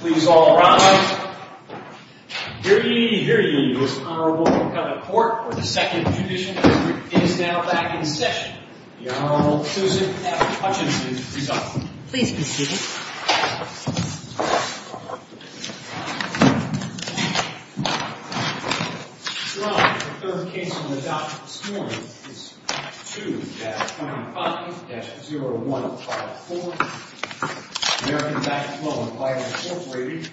Please all rise. Here ye, here ye, Most Honorable McCutcheon Court, where the Second Judicial District is now back in session. The Honorable Susan F. Hutchinson is presiding. Please proceed. Your Honor, the third case on the docket this morning is 2-25-0154. American Backflow & Fire Inc.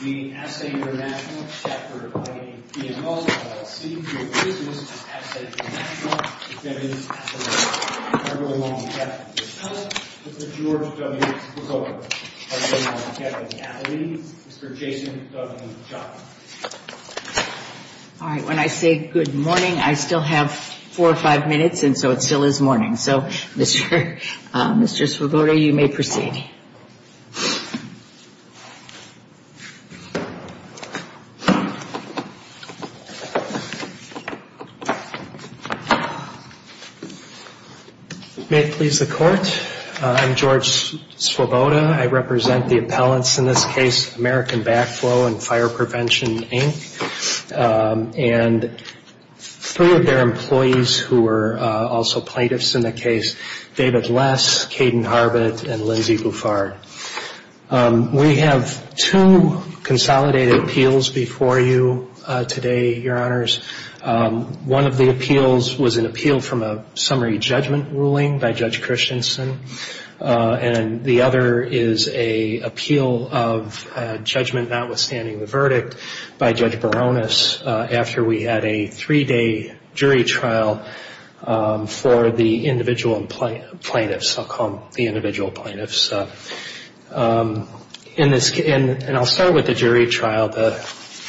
v. ASSE International Chapter of IAPMO, LLC. Your business is ASSE International. Defendant's affidavit. The Honorable W. Kevin McCloskey. Mr. George W. McCloskey. The Honorable Kevin Atherton. Mr. Jason W. Chaka. All right. When I say good morning, I still have four or five minutes, and so it still is morning. So, Mr. Svoboda, you may proceed. May it please the Court, I'm George Svoboda. I represent the appellants in this case, American Backflow & Fire Prevention, Inc. And three of their employees who were also plaintiffs in the case, David Less, Caden Harbett, and Lindsay Bufard. We have two consolidated appeals before you today, Your Honors. One of the appeals was an appeal from a summary judgment ruling by Judge Christensen. And the other is an appeal of judgment notwithstanding the verdict by Judge Baronis after we had a three-day jury trial for the individual plaintiffs. I'll call them the individual plaintiffs. And I'll start with the jury trial.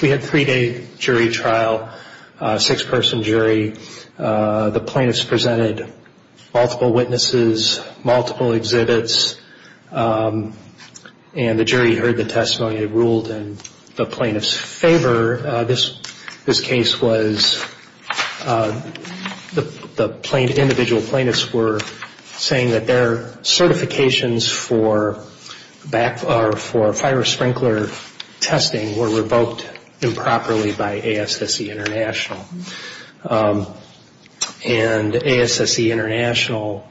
We had a three-day jury trial, a six-person jury. The plaintiffs presented multiple witnesses, multiple exhibits, and the jury heard the testimony they ruled in the plaintiffs' favor. This case was the individual plaintiffs were saying that their certifications for fire sprinkler testing were revoked improperly by ASSE International. And ASSE International,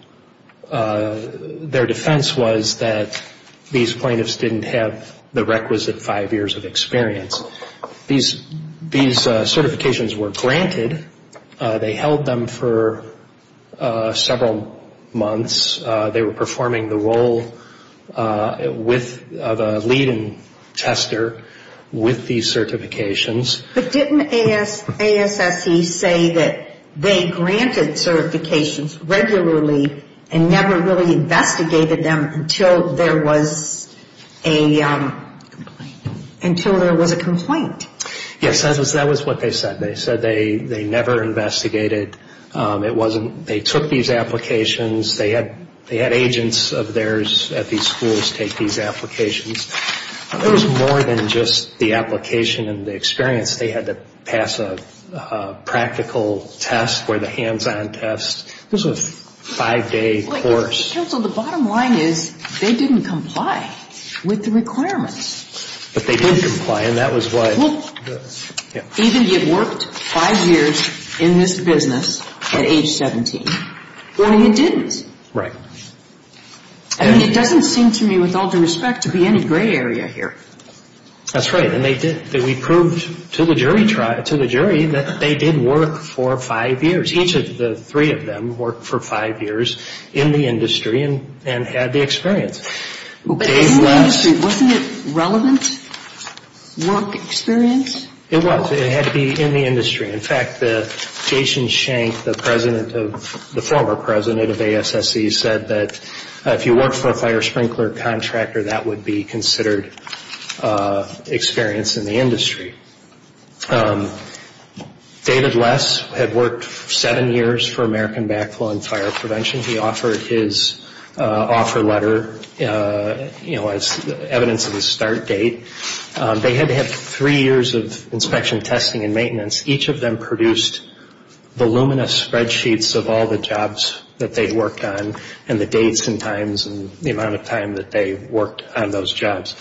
their defense was that these plaintiffs didn't have the requisite five years of experience. These certifications were granted. They held them for several months. They were performing the role of a lead and tester with these certifications. But didn't ASSE say that they granted certifications regularly and never really investigated them until there was a complaint? Yes, that was what they said. They said they never investigated. They took these applications. They had agents of theirs at these schools take these applications. There was more than just the application and the experience. They had to pass a practical test or the hands-on test. This was a five-day course. Counsel, the bottom line is they didn't comply with the requirements. But they did comply, and that was why. Well, even if you worked five years in this business at age 17, what if you didn't? Right. I mean, it doesn't seem to me with all due respect to be any gray area here. That's right, and they did. We proved to the jury that they did work for five years. Each of the three of them worked for five years in the industry and had the experience. But in the industry, wasn't it relevant work experience? It was. It had to be in the industry. In fact, Jason Shank, the former president of ASSE, said that if you worked for a fire sprinkler contractor, that would be considered experience in the industry. David Less had worked seven years for American Backflow and Fire Prevention. He offered his offer letter as evidence of his start date. They had to have three years of inspection, testing, and maintenance. Each of them produced voluminous spreadsheets of all the jobs that they'd worked on and the dates and times and the amount of time that they worked on those jobs.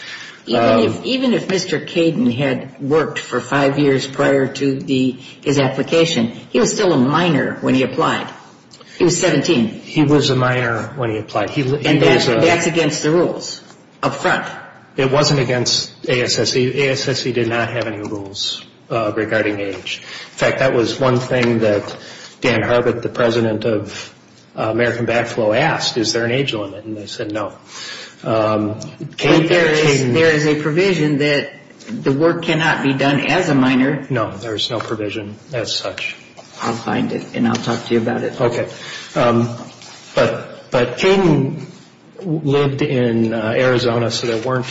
Even if Mr. Caden had worked for five years prior to his application, he was still a minor when he applied. He was 17. He was a minor when he applied. And that's against the rules up front. It wasn't against ASSE. ASSE did not have any rules regarding age. In fact, that was one thing that Dan Harbutt, the president of American Backflow, asked. Is there an age limit? And they said no. There is a provision that the work cannot be done as a minor. No, there is no provision as such. I'll find it and I'll talk to you about it. But Caden lived in Arizona, so there weren't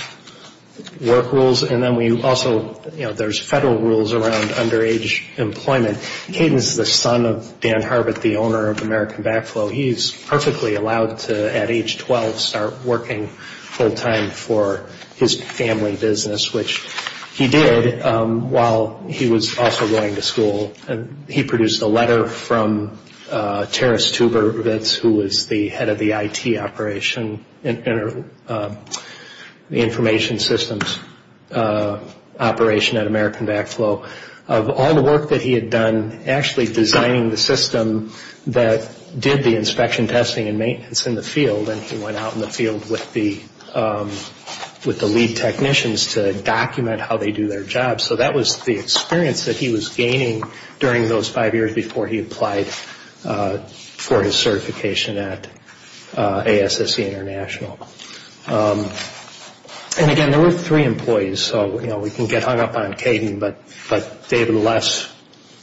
work rules. And then we also, you know, there's federal rules around underage employment. Caden is the son of Dan Harbutt, the owner of American Backflow. He's perfectly allowed to, at age 12, start working full time for his family business, which he did while he was also going to school. And he produced a letter from Terrace Tubervitz, who was the head of the IT operation, the information systems operation at American Backflow, of all the work that he had done actually designing the system that did the inspection, testing, and maintenance in the field. And he went out in the field with the lead technicians to document how they do their job. So that was the experience that he was gaining during those five years before he applied for his certification at ASSC International. And again, there were three employees, so, you know, we can get hung up on Caden, but David Les,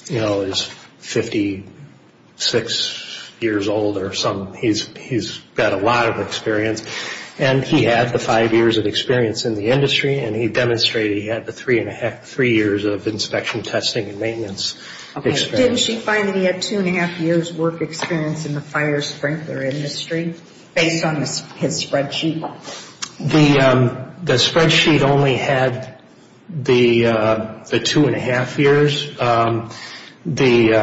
you know, is 56 years old or something. He's got a lot of experience. And he had the five years of experience in the industry, and he demonstrated he had the three years of inspection, testing, and maintenance experience. Didn't she find that he had two-and-a-half years' work experience in the fire sprinkler industry, based on his spreadsheet? The spreadsheet only had the two-and-a-half years because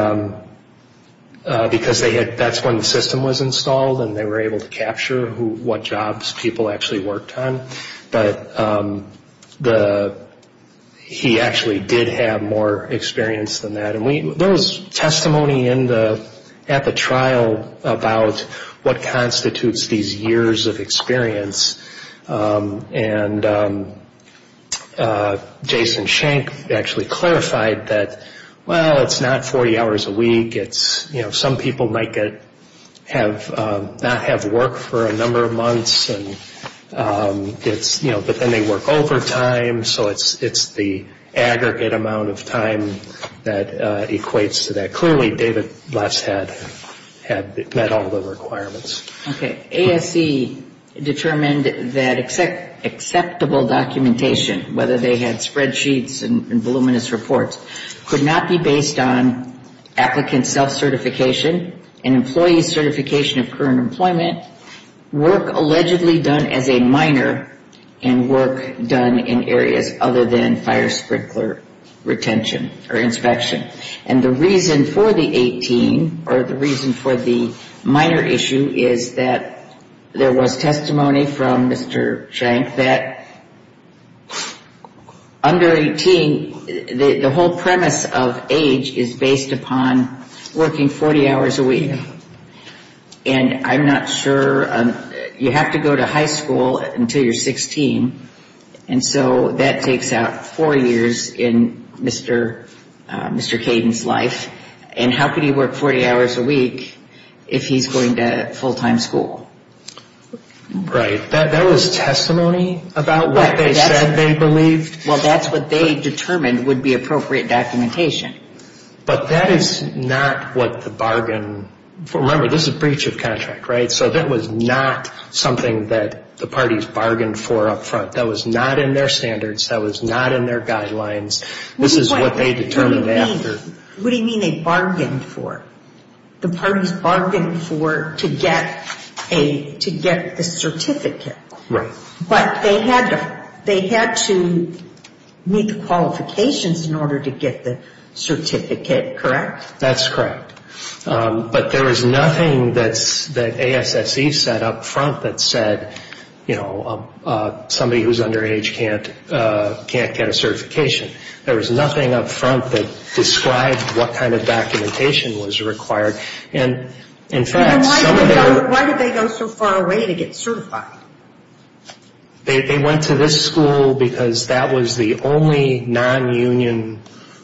that's when the system was installed and they were able to capture what jobs people actually worked on. But he actually did have more experience than that. And there was testimony at the trial about what constitutes these years of experience. And Jason Schenck actually clarified that, well, it's not 40 hours a week. Some people might not have work for a number of months. But then they work overtime, so it's the aggregate amount of time that equates to that. Clearly, David Les had met all the requirements. Okay. ASE determined that acceptable documentation, whether they had spreadsheets and voluminous reports, could not be based on applicant self-certification and employee certification of current employment, work allegedly done as a minor, and work done in areas other than fire sprinkler retention or inspection. And the reason for the 18, or the reason for the minor issue, is that there was testimony from Mr. Schenck that under 18, the whole premise of age is based upon working 40 hours a week. And I'm not sure. You have to go to high school until you're 16. And so that takes out four years in Mr. Caden's life. And how could he work 40 hours a week if he's going to full-time school? Right. That was testimony about what they said they believed? Well, that's what they determined would be appropriate documentation. But that is not what the bargain for. Remember, this is a breach of contract, right? So that was not something that the parties bargained for up front. That was not in their standards. That was not in their guidelines. This is what they determined after. What do you mean they bargained for? The parties bargained for to get a certificate. Right. But they had to meet the qualifications in order to get the certificate, correct? That's correct. But there is nothing that ASSE said up front that said, you know, somebody who's underage can't get a certification. There was nothing up front that described what kind of documentation was required. Why did they go so far away to get certified? They went to this school because that was the only non-union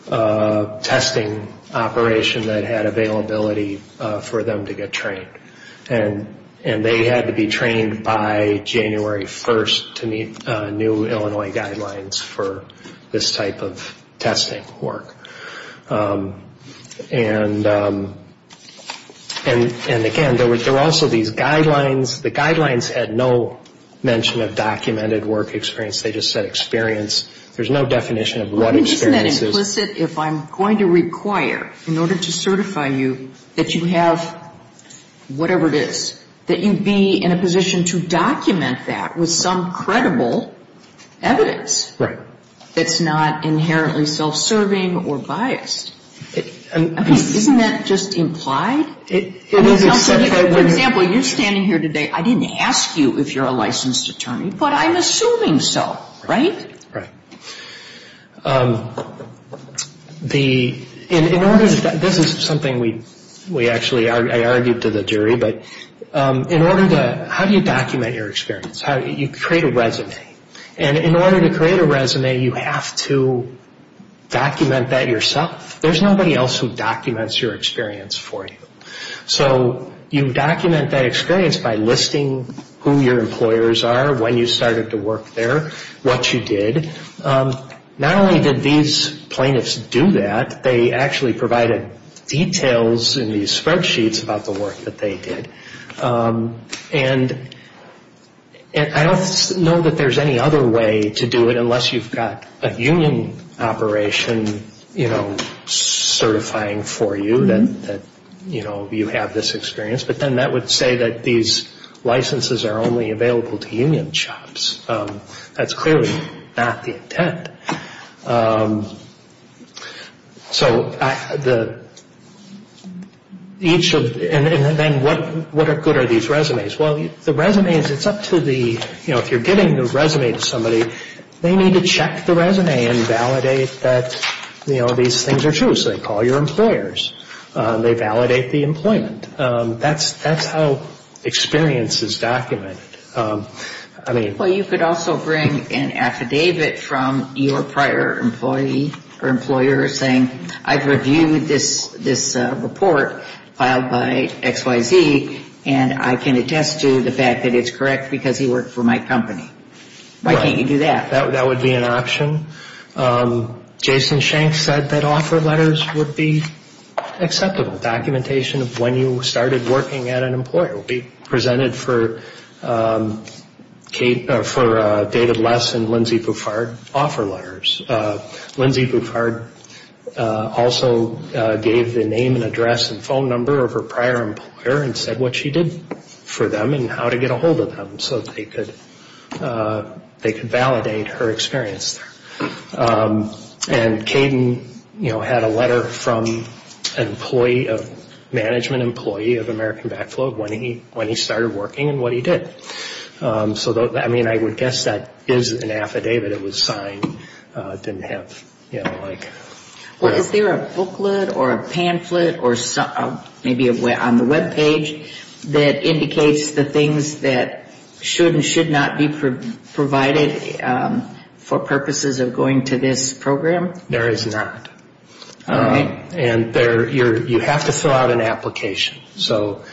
testing operation that had availability for them to get trained. And they had to be trained by January 1st to meet new Illinois guidelines for this type of testing work. And, again, there were also these guidelines. The guidelines had no mention of documented work experience. They just said experience. There's no definition of what experience is. Isn't that implicit if I'm going to require in order to certify you that you have whatever it is, that you be in a position to document that with some credible evidence? Right. That's not inherently self-serving or biased. I mean, isn't that just implied? For example, you're standing here today, I didn't ask you if you're a licensed attorney, but I'm assuming so, right? Right. In order to do that, this is something we actually argued to the jury, but in order to, how do you document your experience? You create a resume. And in order to create a resume, you have to document that yourself. There's nobody else who documents your experience for you. So you document that experience by listing who your employers are, when you started to work there, what you did. Not only did these plaintiffs do that, they actually provided details in these spreadsheets about the work that they did. And I don't know that there's any other way to do it unless you've got a union operation, you know, certifying for you that, you know, you have this experience. But then that would say that these licenses are only available to union jobs. That's clearly not the intent. So each of, and then what good are these resumes? Well, the resumes, it's up to the, you know, if you're giving the resume to somebody, they need to check the resume and validate that, you know, these things are true. So they call your employers. They validate the employment. That's how experience is documented. Well, you could also bring an affidavit from your prior employee or employer saying, I've reviewed this report filed by XYZ, and I can attest to the fact that it's correct because he worked for my company. Why can't you do that? That would be an option. Jason Shank said that offer letters would be acceptable. Documentation of when you started working at an employer will be presented for David Less and Lindsay Bufard offer letters. Lindsay Bufard also gave the name and address and phone number of her prior employer and said what she did for them and how to get a hold of them so they could validate her experience there. And Kayden, you know, had a letter from an employee, a management employee of American Backflow when he started working and what he did. So, I mean, I would guess that is an affidavit. It was signed. It didn't have, you know, like... Well, is there a booklet or a pamphlet or maybe on the web page that indicates the things that should and should not be provided for purposes of going to this program? There is not. And you have to fill out an application. So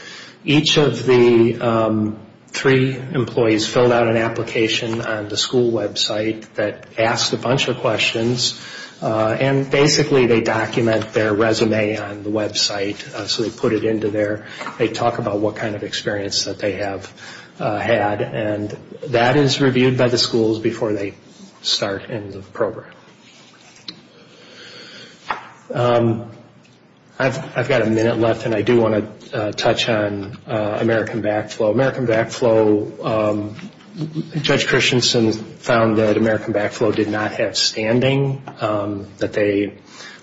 each of the three employees filled out an application on the school website that asked a bunch of questions. And basically they document their resume on the website. So they put it into there. They talk about what kind of experience that they have had. And that is reviewed by the schools before they start in the program. I've got a minute left and I do want to touch on American Backflow. American Backflow, Judge Christensen found that American Backflow did not have standing, that they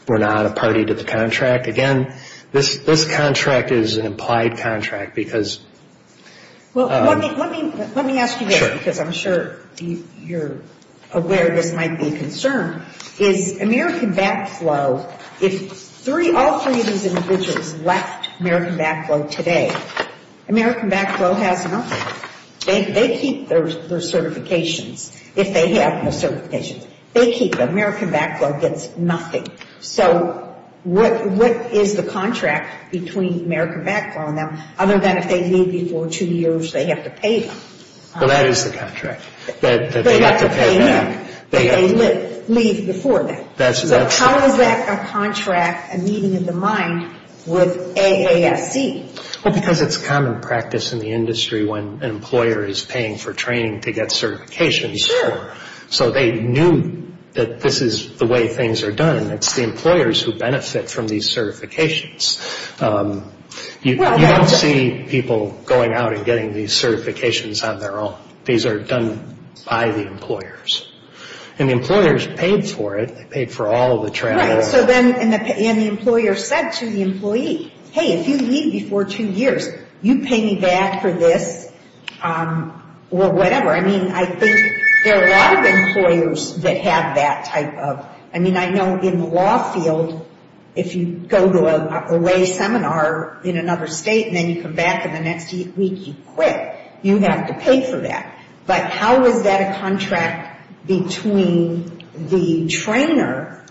were not a party to the contract. Again, this contract is an implied contract because... Well, let me ask you this because I'm sure you're aware this might be a concern. Is American Backflow, if all three of these individuals left American Backflow today, American Backflow has nothing. They keep their certifications if they have no certifications. They keep them. American Backflow gets nothing. So what is the contract between American Backflow and them, other than if they leave before two years, they have to pay them? Well, that is the contract. They have to pay them. But they leave before that. That's right. So how is that a contract, a meeting in the mind, with AASC? Well, because it's common practice in the industry when an employer is paying for training to get certifications. So they knew that this is the way things are done. It's the employers who benefit from these certifications. You don't see people going out and getting these certifications on their own. These are done by the employers. And the employers paid for it. They paid for all of the training. Right. And the employer said to the employee, hey, if you leave before two years, you pay me back for this or whatever. I mean, I think there are a lot of employers that have that type of – I mean, I know in the law field, if you go to a lay seminar in another state and then you come back and the next week you quit, you have to pay for that. But how is that a contract between the trainer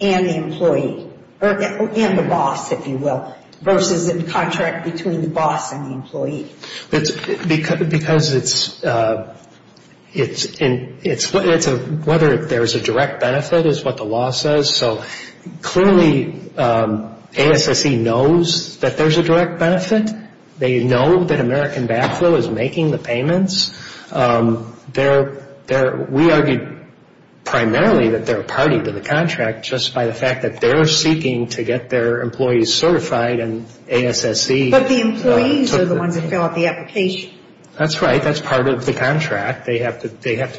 and the employee – and the boss, if you will, versus a contract between the boss and the employee? Because it's – whether there's a direct benefit is what the law says. So clearly ASSE knows that there's a direct benefit. They know that American Backflow is making the payments. They're – we argued primarily that they're a party to the contract just by the fact that they're seeking to get their employees certified and ASSE – But the employees are the ones that fill out the application. That's right. That's part of the contract. They have to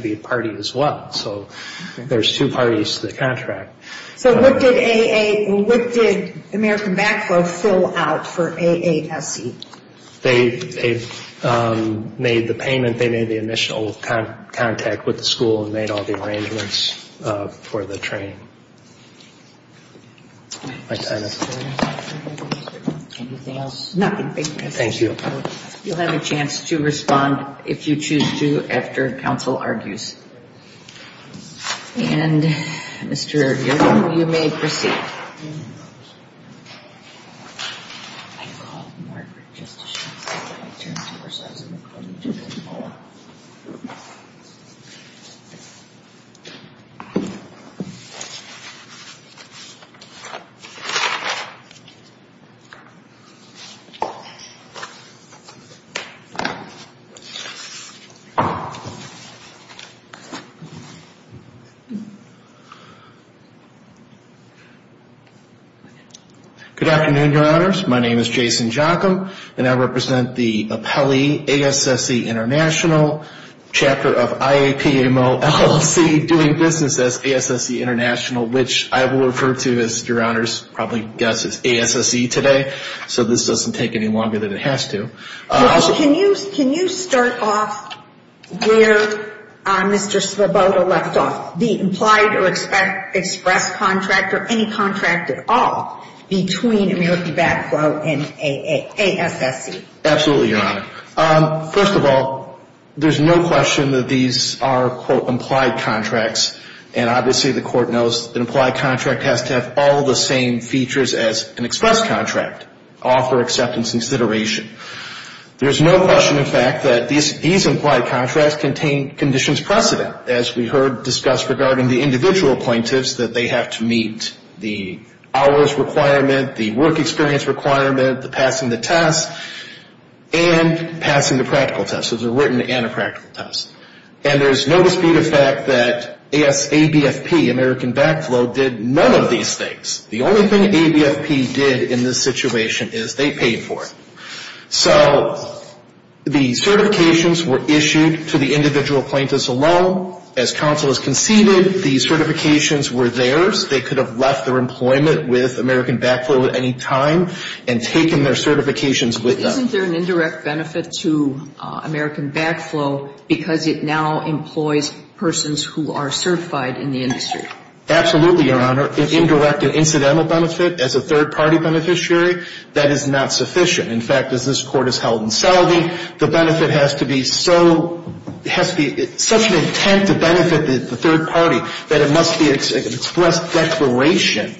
be a party as well. So there's two parties to the contract. So what did AA – what did American Backflow fill out for AASSE? They made the payment. They made the initial contact with the school and made all the arrangements for the training. My time is up. Anything else? Nothing. Thank you. Thank you. You'll have a chance to respond if you choose to after counsel argues. And, Mr. Erdrich, you may proceed. Good afternoon, Your Honors. My name is Jason Jockum, and I represent the appellee ASSE International, chapter of IAPMLLC, doing business as ASSE International, which I will refer to as, Your Honors, probably guess as ASSE today. So this doesn't take any longer than it has to. Well, can you start off where Mr. Svoboda left off, the implied or express contract or any contract at all between American Backflow and ASSE? Absolutely, Your Honor. First of all, there's no question that these are, quote, implied contracts, and obviously the court knows an implied contract has to have all the same features as an express contract, all for acceptance and consideration. There's no question, in fact, that these implied contracts contain conditions precedent, as we heard discussed regarding the individual appointees that they have to meet, the hours requirement, the work experience requirement, the passing the test, and passing the practical test. So there's a written and a practical test. And there's no dispute of fact that ABFP, American Backflow, did none of these things. The only thing ABFP did in this situation is they paid for it. So the certifications were issued to the individual appointees alone. As counsel has conceded, the certifications were theirs. They could have left their employment with American Backflow at any time and taken their certifications with them. Isn't there an indirect benefit to American Backflow because it now employs persons who are certified in the industry? Absolutely, Your Honor. An indirect and incidental benefit as a third-party beneficiary, that is not sufficient. In fact, as this Court has held in Selby, the benefit has to be so – has to be such an intent to benefit the third party that it must be an express declaration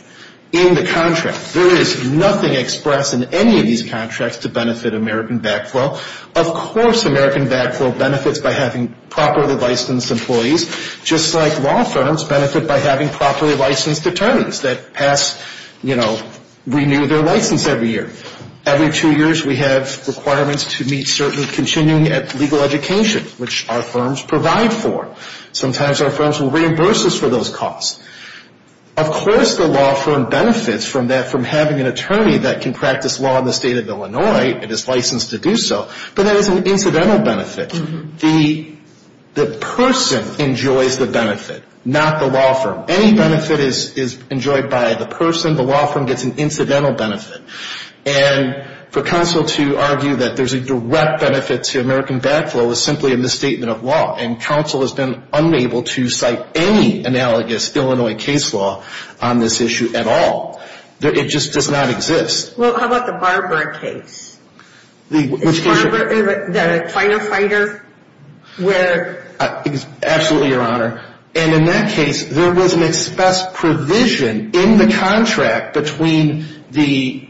in the contract. There is nothing express in any of these contracts to benefit American Backflow. Of course, American Backflow benefits by having properly licensed employees, just like law firms benefit by having properly licensed attorneys that pass, you know, renew their license every year. Every two years, we have requirements to meet certain continuing legal education, which our firms provide for. Sometimes our firms will reimburse us for those costs. Of course, the law firm benefits from that, from having an attorney that can practice law in the State of Illinois and is licensed to do so, but that is an incidental benefit. The person enjoys the benefit, not the law firm. Any benefit is enjoyed by the person. The law firm gets an incidental benefit. And for counsel to argue that there's a direct benefit to American Backflow is simply a misstatement of law, and counsel has been unable to cite any analogous Illinois case law on this issue at all. It just does not exist. Well, how about the Barber case? The Barber, the firefighter, where? Absolutely, Your Honor. And in that case, there was an express provision in the contract between the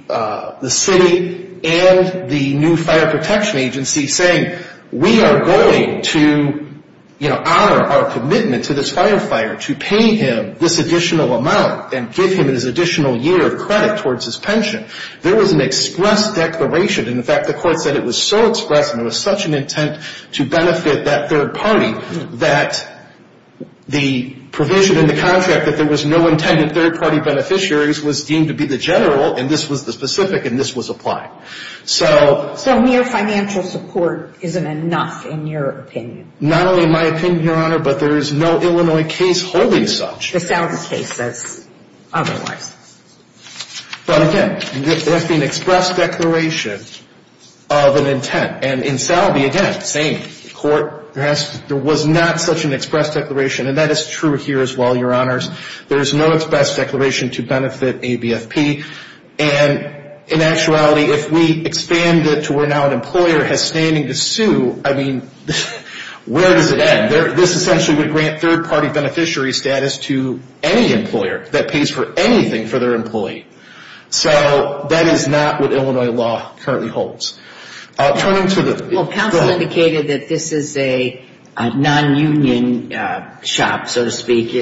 city and the new fire protection agency saying we are going to, you know, honor our commitment to this firefighter to pay him this additional amount and give him this additional year of credit towards his pension. There was an express declaration. In fact, the court said it was so express and it was such an intent to benefit that third party that the provision in the contract that there was no intended third-party beneficiaries was deemed to be the general, and this was the specific, and this was applied. So mere financial support isn't enough in your opinion? Not only in my opinion, Your Honor, but there is no Illinois case holding such. The South's case says otherwise. But again, there has to be an express declaration of an intent. And in Salve, again, same court, there was not such an express declaration, and that is true here as well, Your Honors. There is no express declaration to benefit ABFP. And in actuality, if we expand it to where now an employer has standing to sue, I mean, where does it end? This essentially would grant third-party beneficiary status to any employer that pays for anything for their employee. So that is not what Illinois law currently holds. Turning to the – go ahead. Well, counsel indicated that this is a non-union shop, so to speak.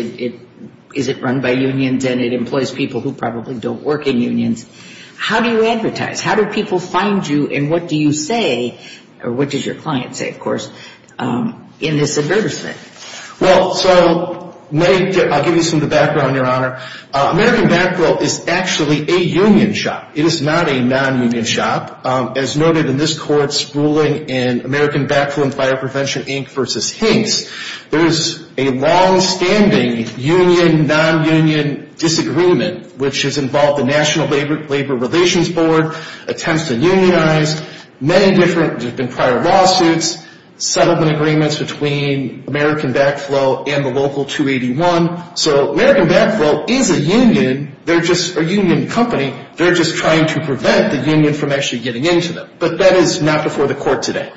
Is it run by unions? And it employs people who probably don't work in unions. How do you advertise? How do people find you, and what do you say, or what does your client say, of course, in this advertisement? Well, so I'll give you some of the background, Your Honor. American Backfill is actually a union shop. It is not a non-union shop. As noted in this court's ruling in American Backfill and Fire Prevention, Inc. v. Hinks, there is a longstanding union, non-union disagreement, which has involved the National Labor Relations Board, attempts to unionize, many different – there have been prior lawsuits, settlement agreements between American Backfill and the local 281. So American Backfill is a union. They're just a union company. They're just trying to prevent the union from actually getting into them. But that is not before the court today.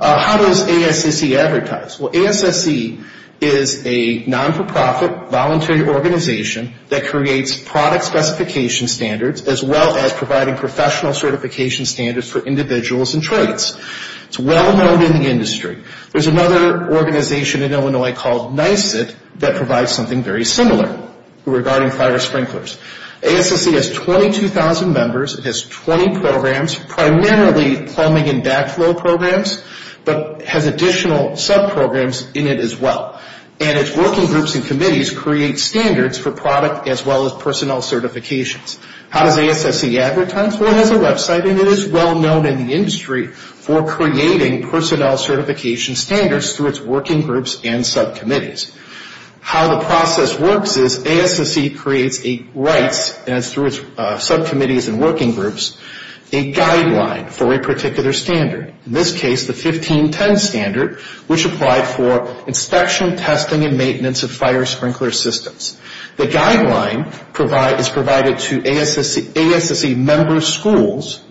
How does ASSE advertise? Well, ASSE is a non-for-profit voluntary organization that creates product specification standards as well as providing professional certification standards for individuals and trades. It's well known in the industry. There's another organization in Illinois called NYSIT that provides something very similar regarding fire sprinklers. ASSE has 22,000 members. It has 20 programs, primarily plumbing and backflow programs, but has additional subprograms in it as well. And its working groups and committees create standards for product as well as personnel certifications. How does ASSE advertise? Well, NYSIT has a website, and it is well known in the industry for creating personnel certification standards through its working groups and subcommittees. How the process works is ASSE creates, and it's through its subcommittees and working groups, a guideline for a particular standard, in this case the 1510 standard, which applied for inspection, testing, and maintenance of fire sprinkler systems. The guideline is provided to ASSE member schools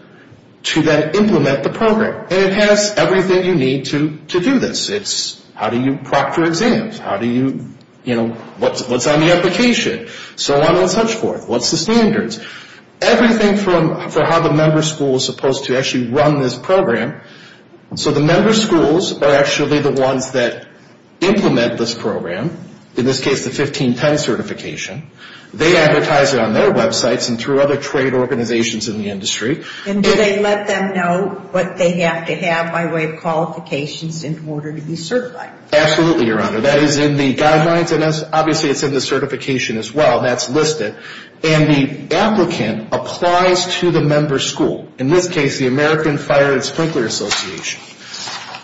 to then implement the program. And it has everything you need to do this. It's how do you proctor exams? How do you, you know, what's on the application? So on and such forth. What's the standards? Everything for how the member schools are supposed to actually run this program. So the member schools are actually the ones that implement this program, in this case the 1510 certification. They advertise it on their websites and through other trade organizations in the industry. And do they let them know what they have to have by way of qualifications in order to be certified? Absolutely, Your Honor. That is in the guidelines, and obviously it's in the certification as well. That's listed. And the applicant applies to the member school, in this case the American Fire and Sprinkler Association.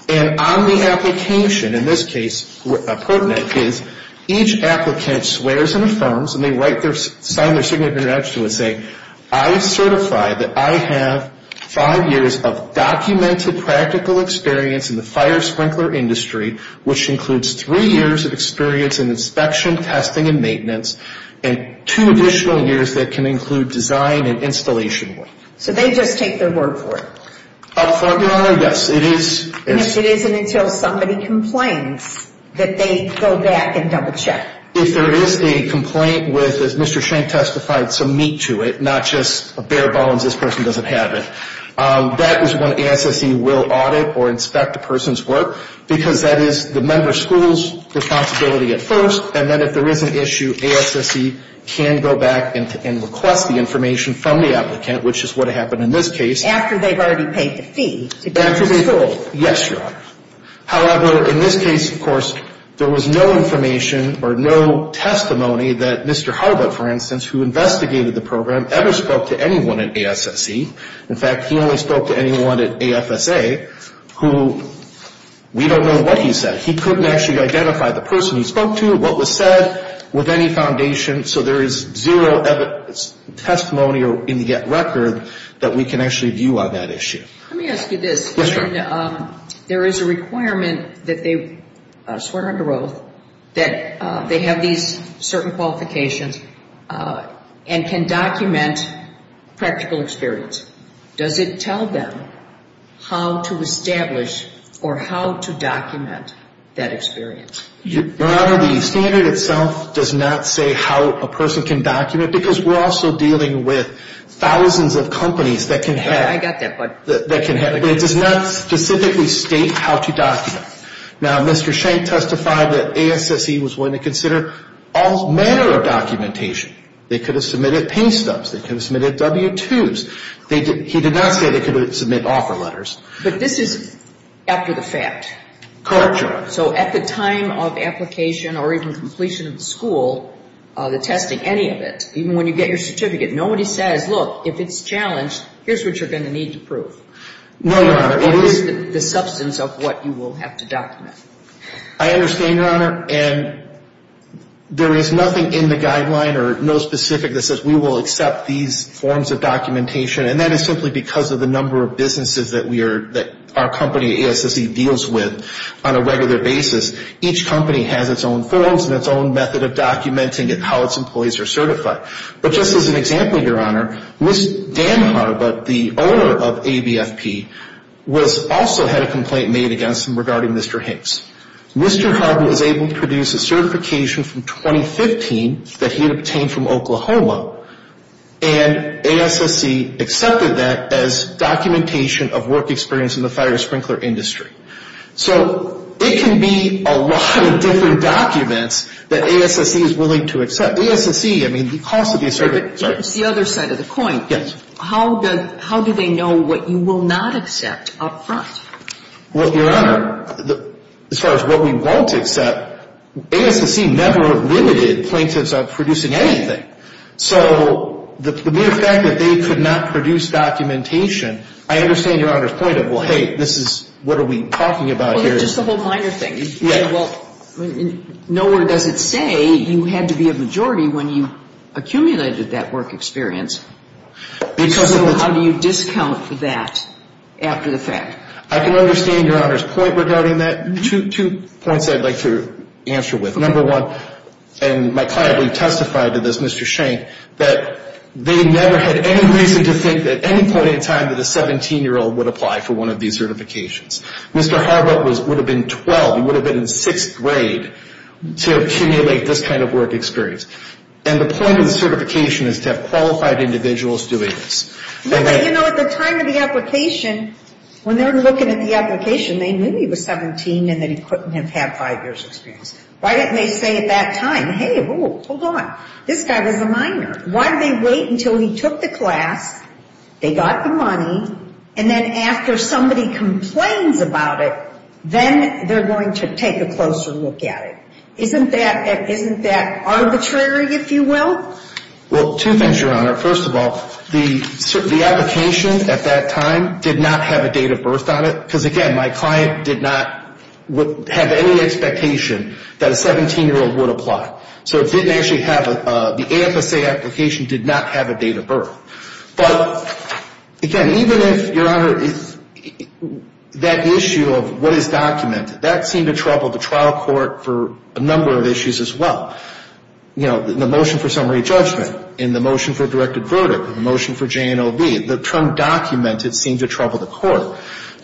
And on the application, in this case, a pertinent is each applicant swears and affirms, and they write their, sign their signature and say, I have certified that I have five years of documented practical experience in the fire sprinkler industry, which includes three years of experience in inspection, testing, and maintenance, and two additional years that can include design and installation work. So they just take their word for it? Affirmative, Your Honor. Yes, it is. And if it isn't until somebody complains that they go back and double check? If there is a complaint with, as Mr. Shank testified, some meat to it, not just a bare bones, this person doesn't have it, that is when ASSE will audit or inspect a person's work, because that is the member school's responsibility at first, and then if there is an issue, ASSE can go back and request the information from the applicant, which is what happened in this case. After they've already paid the fee to get to the school? After they've, yes, Your Honor. However, in this case, of course, there was no information or no testimony that Mr. Harbutt, for instance, who investigated the program, ever spoke to anyone at ASSE. In fact, he only spoke to anyone at AFSA who, we don't know what he said. He couldn't actually identify the person he spoke to, what was said, with any foundation. So there is zero testimony in the record that we can actually view on that issue. Let me ask you this. Yes, Your Honor. There is a requirement that they swear under oath that they have these certain qualifications and can document practical experience. Does it tell them how to establish or how to document that experience? Your Honor, the standard itself does not say how a person can document because we're also dealing with thousands of companies that can have. I got that, bud. But it does not specifically state how to document. Now, Mr. Schenck testified that ASSE was willing to consider all manner of documentation. They could have submitted pay stubs. They could have submitted W-2s. He did not say they could submit offer letters. But this is after the fact. Correct, Your Honor. So at the time of application or even completion of the school, the testing, any of it, even when you get your certificate, nobody says, look, if it's challenged, here's what you're going to need to prove. No, Your Honor. It is the substance of what you will have to document. I understand, Your Honor. And there is nothing in the guideline or no specific that says we will accept these forms of documentation. And that is simply because of the number of businesses that our company, ASSE, deals with on a regular basis. Each company has its own forms and its own method of documenting how its employees are certified. But just as an example, Your Honor, Ms. Dan Harbutt, the owner of ABFP, also had a complaint made against him regarding Mr. Hicks. Mr. Harbutt was able to produce a certification from 2015 that he had obtained from Oklahoma, and ASSE accepted that as documentation of work experience in the fire sprinkler industry. So it can be a lot of different documents that ASSE is willing to accept. ASSE, I mean, the cost of these certificates. It's the other side of the coin. Yes. How do they know what you will not accept up front? Well, Your Honor, as far as what we won't accept, ASSE never limited plaintiffs of producing anything. So the mere fact that they could not produce documentation, I understand Your Honor's point of, well, hey, this is, what are we talking about here? Well, it's just a whole minor thing. Yes. Well, nowhere does it say you had to be a majority when you accumulated that work experience. So how do you discount that after the fact? I can understand Your Honor's point regarding that. Two points I'd like to answer with. Number one, and my client testified to this, Mr. Shank, that they never had any reason to think at any point in time that a 17-year-old would apply for one of these certifications. Mr. Harbert would have been 12. He would have been in sixth grade to accumulate this kind of work experience. And the point of the certification is to have qualified individuals doing this. You know, at the time of the application, when they were looking at the application, they knew he was 17 and that he couldn't have had five years' experience. Why didn't they say at that time, hey, hold on, this guy was a minor. Why did they wait until he took the class, they got the money, and then after somebody complains about it, then they're going to take a closer look at it? Isn't that arbitrary, if you will? Well, two things, Your Honor. First of all, the application at that time did not have a date of birth on it because, again, my client did not have any expectation that a 17-year-old would apply. So it didn't actually have a – the AFSA application did not have a date of birth. But, again, even if, Your Honor, that issue of what is documented, that seemed to trouble the trial court for a number of issues as well. You know, in the motion for summary judgment, in the motion for directed verdict, in the motion for J&OB, the term documented seemed to trouble the court.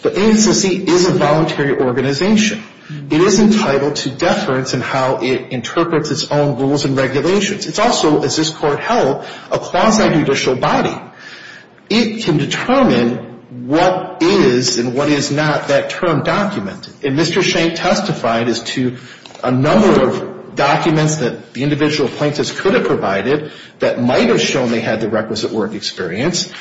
But ANSTC is a voluntary organization. It is entitled to deference in how it interprets its own rules and regulations. It's also, as this Court held, a quasi-judicial body. It can determine what is and what is not that term documented. And Mr. Shank testified as to a number of documents that the individual plaintiffs could have provided that might have shown they had the requisite work experience,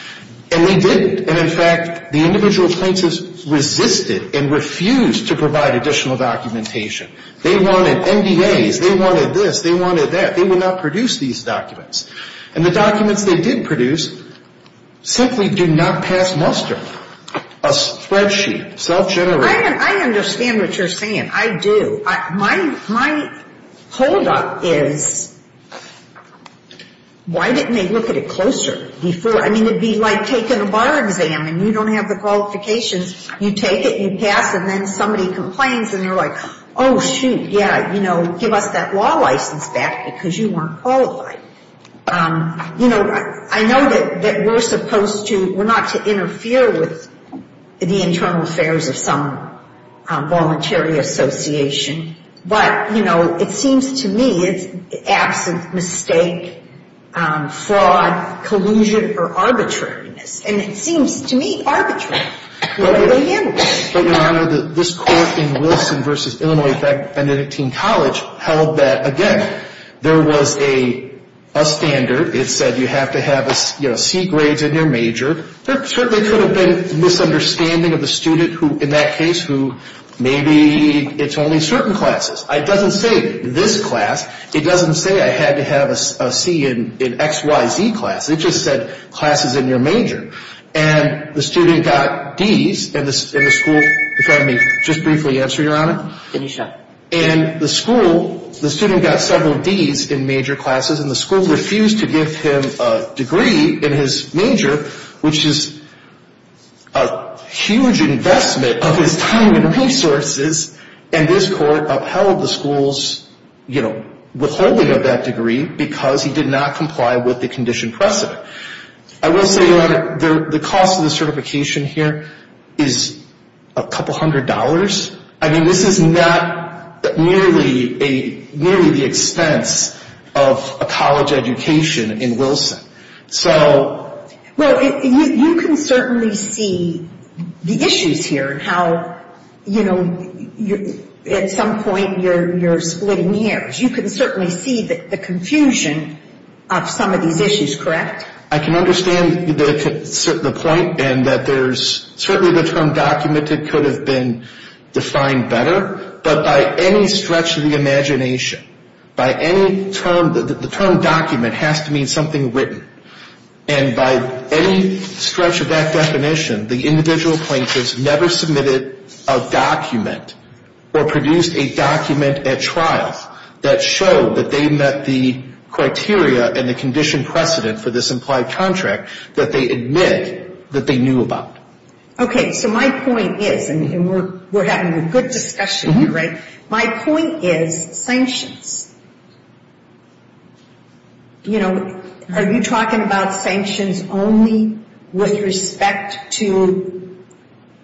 and they didn't. And, in fact, the individual plaintiffs resisted and refused to provide additional documentation. They wanted NDAs. They wanted this. They wanted that. They would not produce these documents. And the documents they did produce simply did not pass muster, a spreadsheet, self-generated. I understand what you're saying. I do. My holdup is why didn't they look at it closer before? I mean, it would be like taking a bar exam, and you don't have the qualifications. You take it, you pass, and then somebody complains, and you're like, oh, shoot, yeah, you know, give us that law license back because you weren't qualified. You know, I know that we're supposed to, we're not to interfere with the internal affairs of some voluntary association. But, you know, it seems to me it's absent mistake, fraud, collusion, or arbitrariness. And it seems to me arbitrary. What are they handling? But, Your Honor, this court in Wilson v. Illinois Benedictine College held that, again, there was a standard. It said you have to have, you know, C grades in your major. There certainly could have been misunderstanding of the student who, in that case, who maybe it's only certain classes. It doesn't say this class. It doesn't say I had to have a C in X, Y, Z class. It just said classes in your major. And the student got Ds in the school. If I may just briefly answer, Your Honor. Finish up. And the school, the student got several Ds in major classes. And the school refused to give him a degree in his major, which is a huge investment of his time and resources. And this court upheld the school's, you know, withholding of that degree because he did not comply with the condition precedent. I will say, Your Honor, the cost of the certification here is a couple hundred dollars. I mean, this is not nearly the expense of a college education in Wilson. Well, you can certainly see the issues here and how, you know, at some point you're splitting hairs. You can certainly see the confusion of some of these issues, correct? I can understand the point in that there's certainly the term documented could have been defined better. But by any stretch of the imagination, by any term, the term document has to mean something written. And by any stretch of that definition, the individual plaintiffs never submitted a document or produced a document at trial that showed that they met the criteria and the condition precedent for this implied contract that they admit that they knew about. Okay. So my point is, and we're having a good discussion here, right? My point is sanctions. You know, are you talking about sanctions only with respect to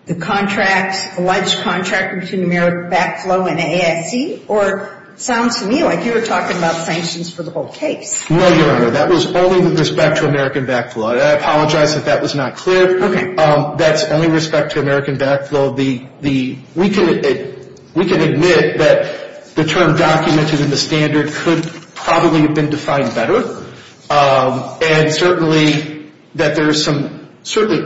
the contracts, alleged contract between American Backflow and ASC? Or it sounds to me like you were talking about sanctions for the whole case. No, Your Honor. That was only with respect to American Backflow. I apologize if that was not clear. Okay. That's only with respect to American Backflow. We can admit that the term documented in the standard could probably have been defined better. And certainly that there are some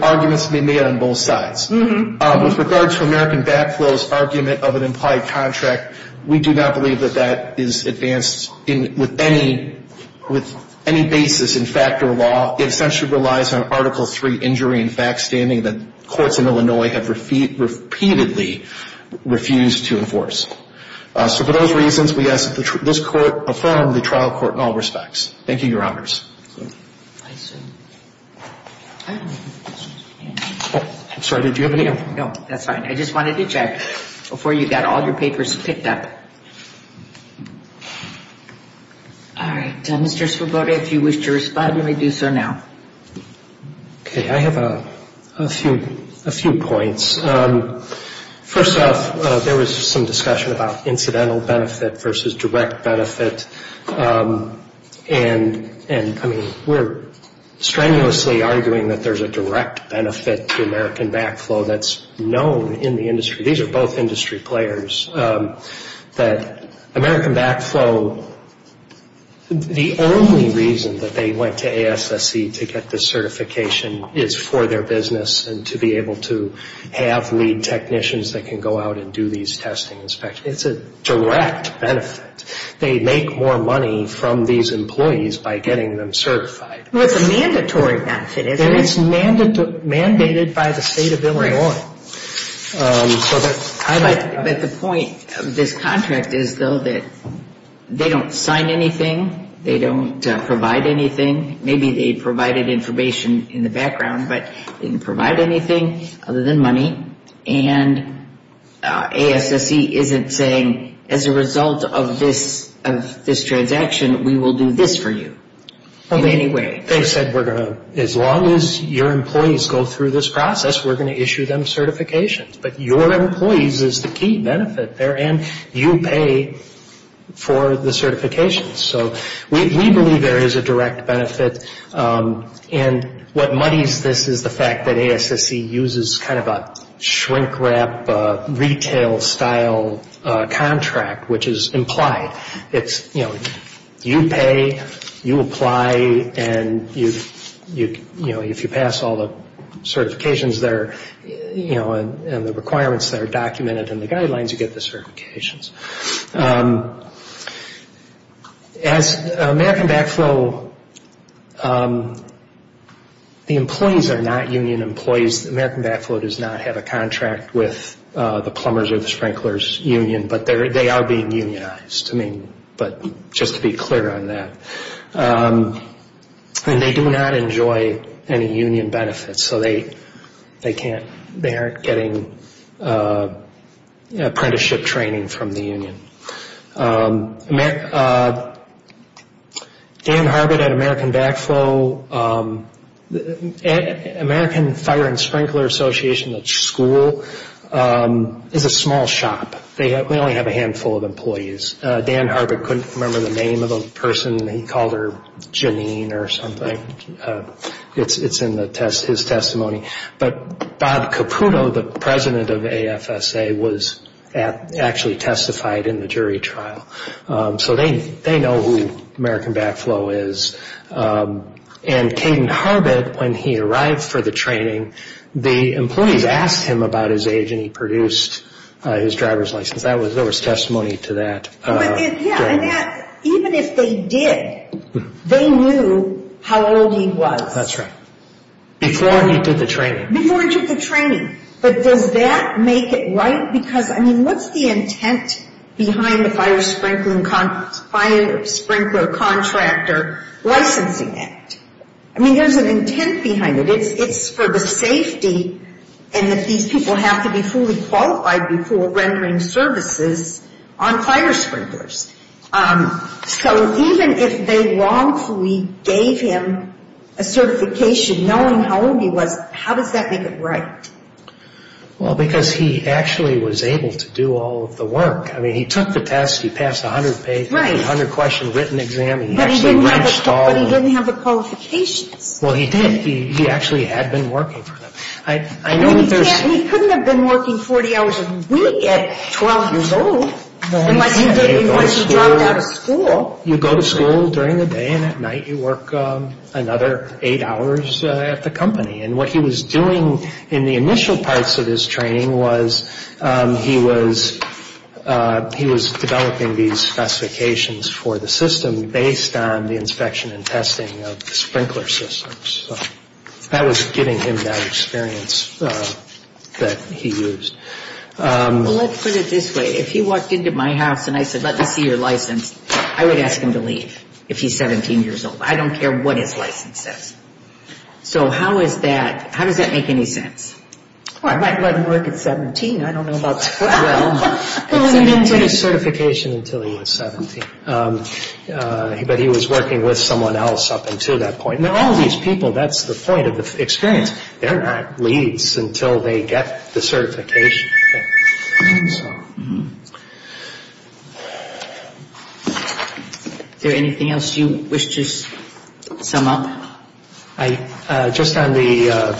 arguments to be made on both sides. With regard to American Backflow's argument of an implied contract, we do not believe that that is advanced with any basis in fact or law. It essentially relies on Article III injury and fact-standing that courts in Illinois have repeatedly refused to enforce. So for those reasons, we ask that this Court affirm the trial court in all respects. Thank you, Your Honors. I'm sorry, did you have any? No, that's fine. I just wanted to check before you got all your papers picked up. All right. Mr. Svoboda, if you wish to respond, you may do so now. Okay. I have a few points. First off, there was some discussion about incidental benefit versus direct benefit. And I mean, we're strenuously arguing that there's a direct benefit to American Backflow that's known in the industry. These are both industry players. That American Backflow, the only reason that they went to ASSC to get this certification is for their business and to be able to have lead technicians that can go out and do these testing inspections. It's a direct benefit. They make more money from these employees by getting them certified. Well, it's a mandatory benefit, isn't it? And it's mandated by the State of Illinois. But the point of this contract is, though, that they don't sign anything. They don't provide anything. Maybe they provided information in the background, but they didn't provide anything other than money. And ASSC isn't saying, as a result of this transaction, we will do this for you in any way. They said, as long as your employees go through this process, we're going to issue them certifications. But your employees is the key benefit there, and you pay for the certifications. So we believe there is a direct benefit. And what muddies this is the fact that ASSC uses kind of a shrink-wrap, retail-style contract, which is implied. It's, you know, you pay, you apply, and, you know, if you pass all the certifications there, you know, and the requirements that are documented in the guidelines, you get the certifications. As American Backflow, the employees are not union employees. American Backflow does not have a contract with the Plumbers or the Sprinklers Union, but they are being unionized, I mean, but just to be clear on that. And they do not enjoy any union benefits. So they can't, they aren't getting apprenticeship training from the union. Dan Harbert at American Backflow, American Fire and Sprinkler Association, the school, is a small shop. They only have a handful of employees. Dan Harbert couldn't remember the name of the person. He called her Janine or something. It's in his testimony. But Bob Caputo, the president of AFSA, was actually testified in the jury trial. So they know who American Backflow is. And Caden Harbert, when he arrived for the training, the employees asked him about his age, and he produced his driver's license. There was testimony to that. Yeah, and that, even if they did, they knew how old he was. That's right. Before he did the training. Before he did the training. But does that make it right? Because, I mean, what's the intent behind the Fire Sprinkler Contractor Licensing Act? I mean, there's an intent behind it. It's for the safety and that these people have to be fully qualified before rendering services on fire sprinklers. So even if they wrongfully gave him a certification knowing how old he was, how does that make it right? Well, because he actually was able to do all of the work. I mean, he took the test. He passed the 100-question written exam. He actually reached all of them. But he didn't have the qualifications. Well, he did. He actually had been working for them. He couldn't have been working 40 hours a week at 12 years old. Unless he dropped out of school. You go to school during the day and at night you work another eight hours at the company. And what he was doing in the initial parts of his training was he was developing these specifications for the system based on the inspection and testing of sprinkler systems. So that was giving him that experience that he used. Well, let's put it this way. If he walked into my house and I said, let me see your license, I would ask him to leave if he's 17 years old. I don't care what his license says. So how is that, how does that make any sense? Well, I might let him work at 17. I don't know about 12. Well, he didn't get a certification until he was 17. But he was working with someone else up until that point. Now, all these people, that's the point of the experience. They're not leads until they get the certification. Is there anything else you wish to sum up? Just on the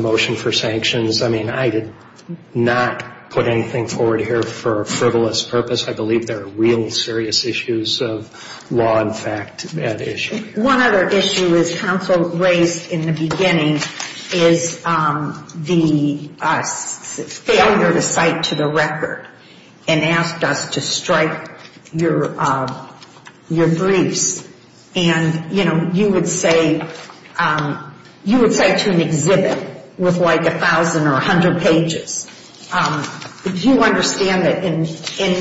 motion for sanctions, I mean, I did not put anything forward here for a frivolous purpose. I believe there are real serious issues of law and fact at issue. One other issue is counsel raised in the beginning is the failure to cite to the record and asked us to strike your briefs. And, you know, you would say to an exhibit with, like, 1,000 or 100 pages, do you understand that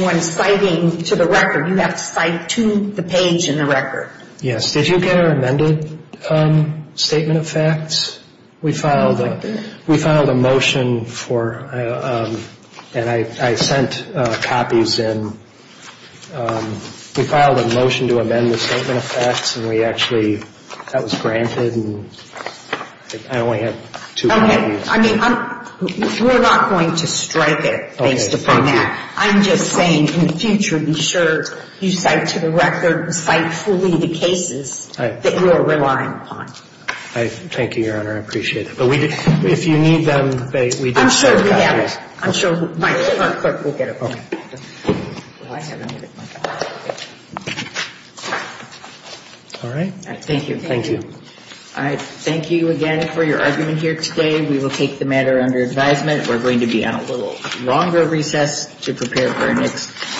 when citing to the record, you have to cite to the page in the record? Yes. Did you get our amended Statement of Facts? We filed a motion for, and I sent copies in. We filed a motion to amend the Statement of Facts, and we actually, that was granted, and I only had two copies. Okay. I mean, we're not going to strike it based upon that. I'm just saying in the future, be sure you cite to the record, cite fully the cases that you are relying upon. Thank you, Your Honor. I appreciate it. But if you need them, we do have copies. I'm sure we have them. I'm sure my clerk will get them. Okay. All right. Thank you. Thank you. All right. Thank you again for your argument here today. We will take the matter under advisement. We're going to be on a little longer recess to prepare for our next.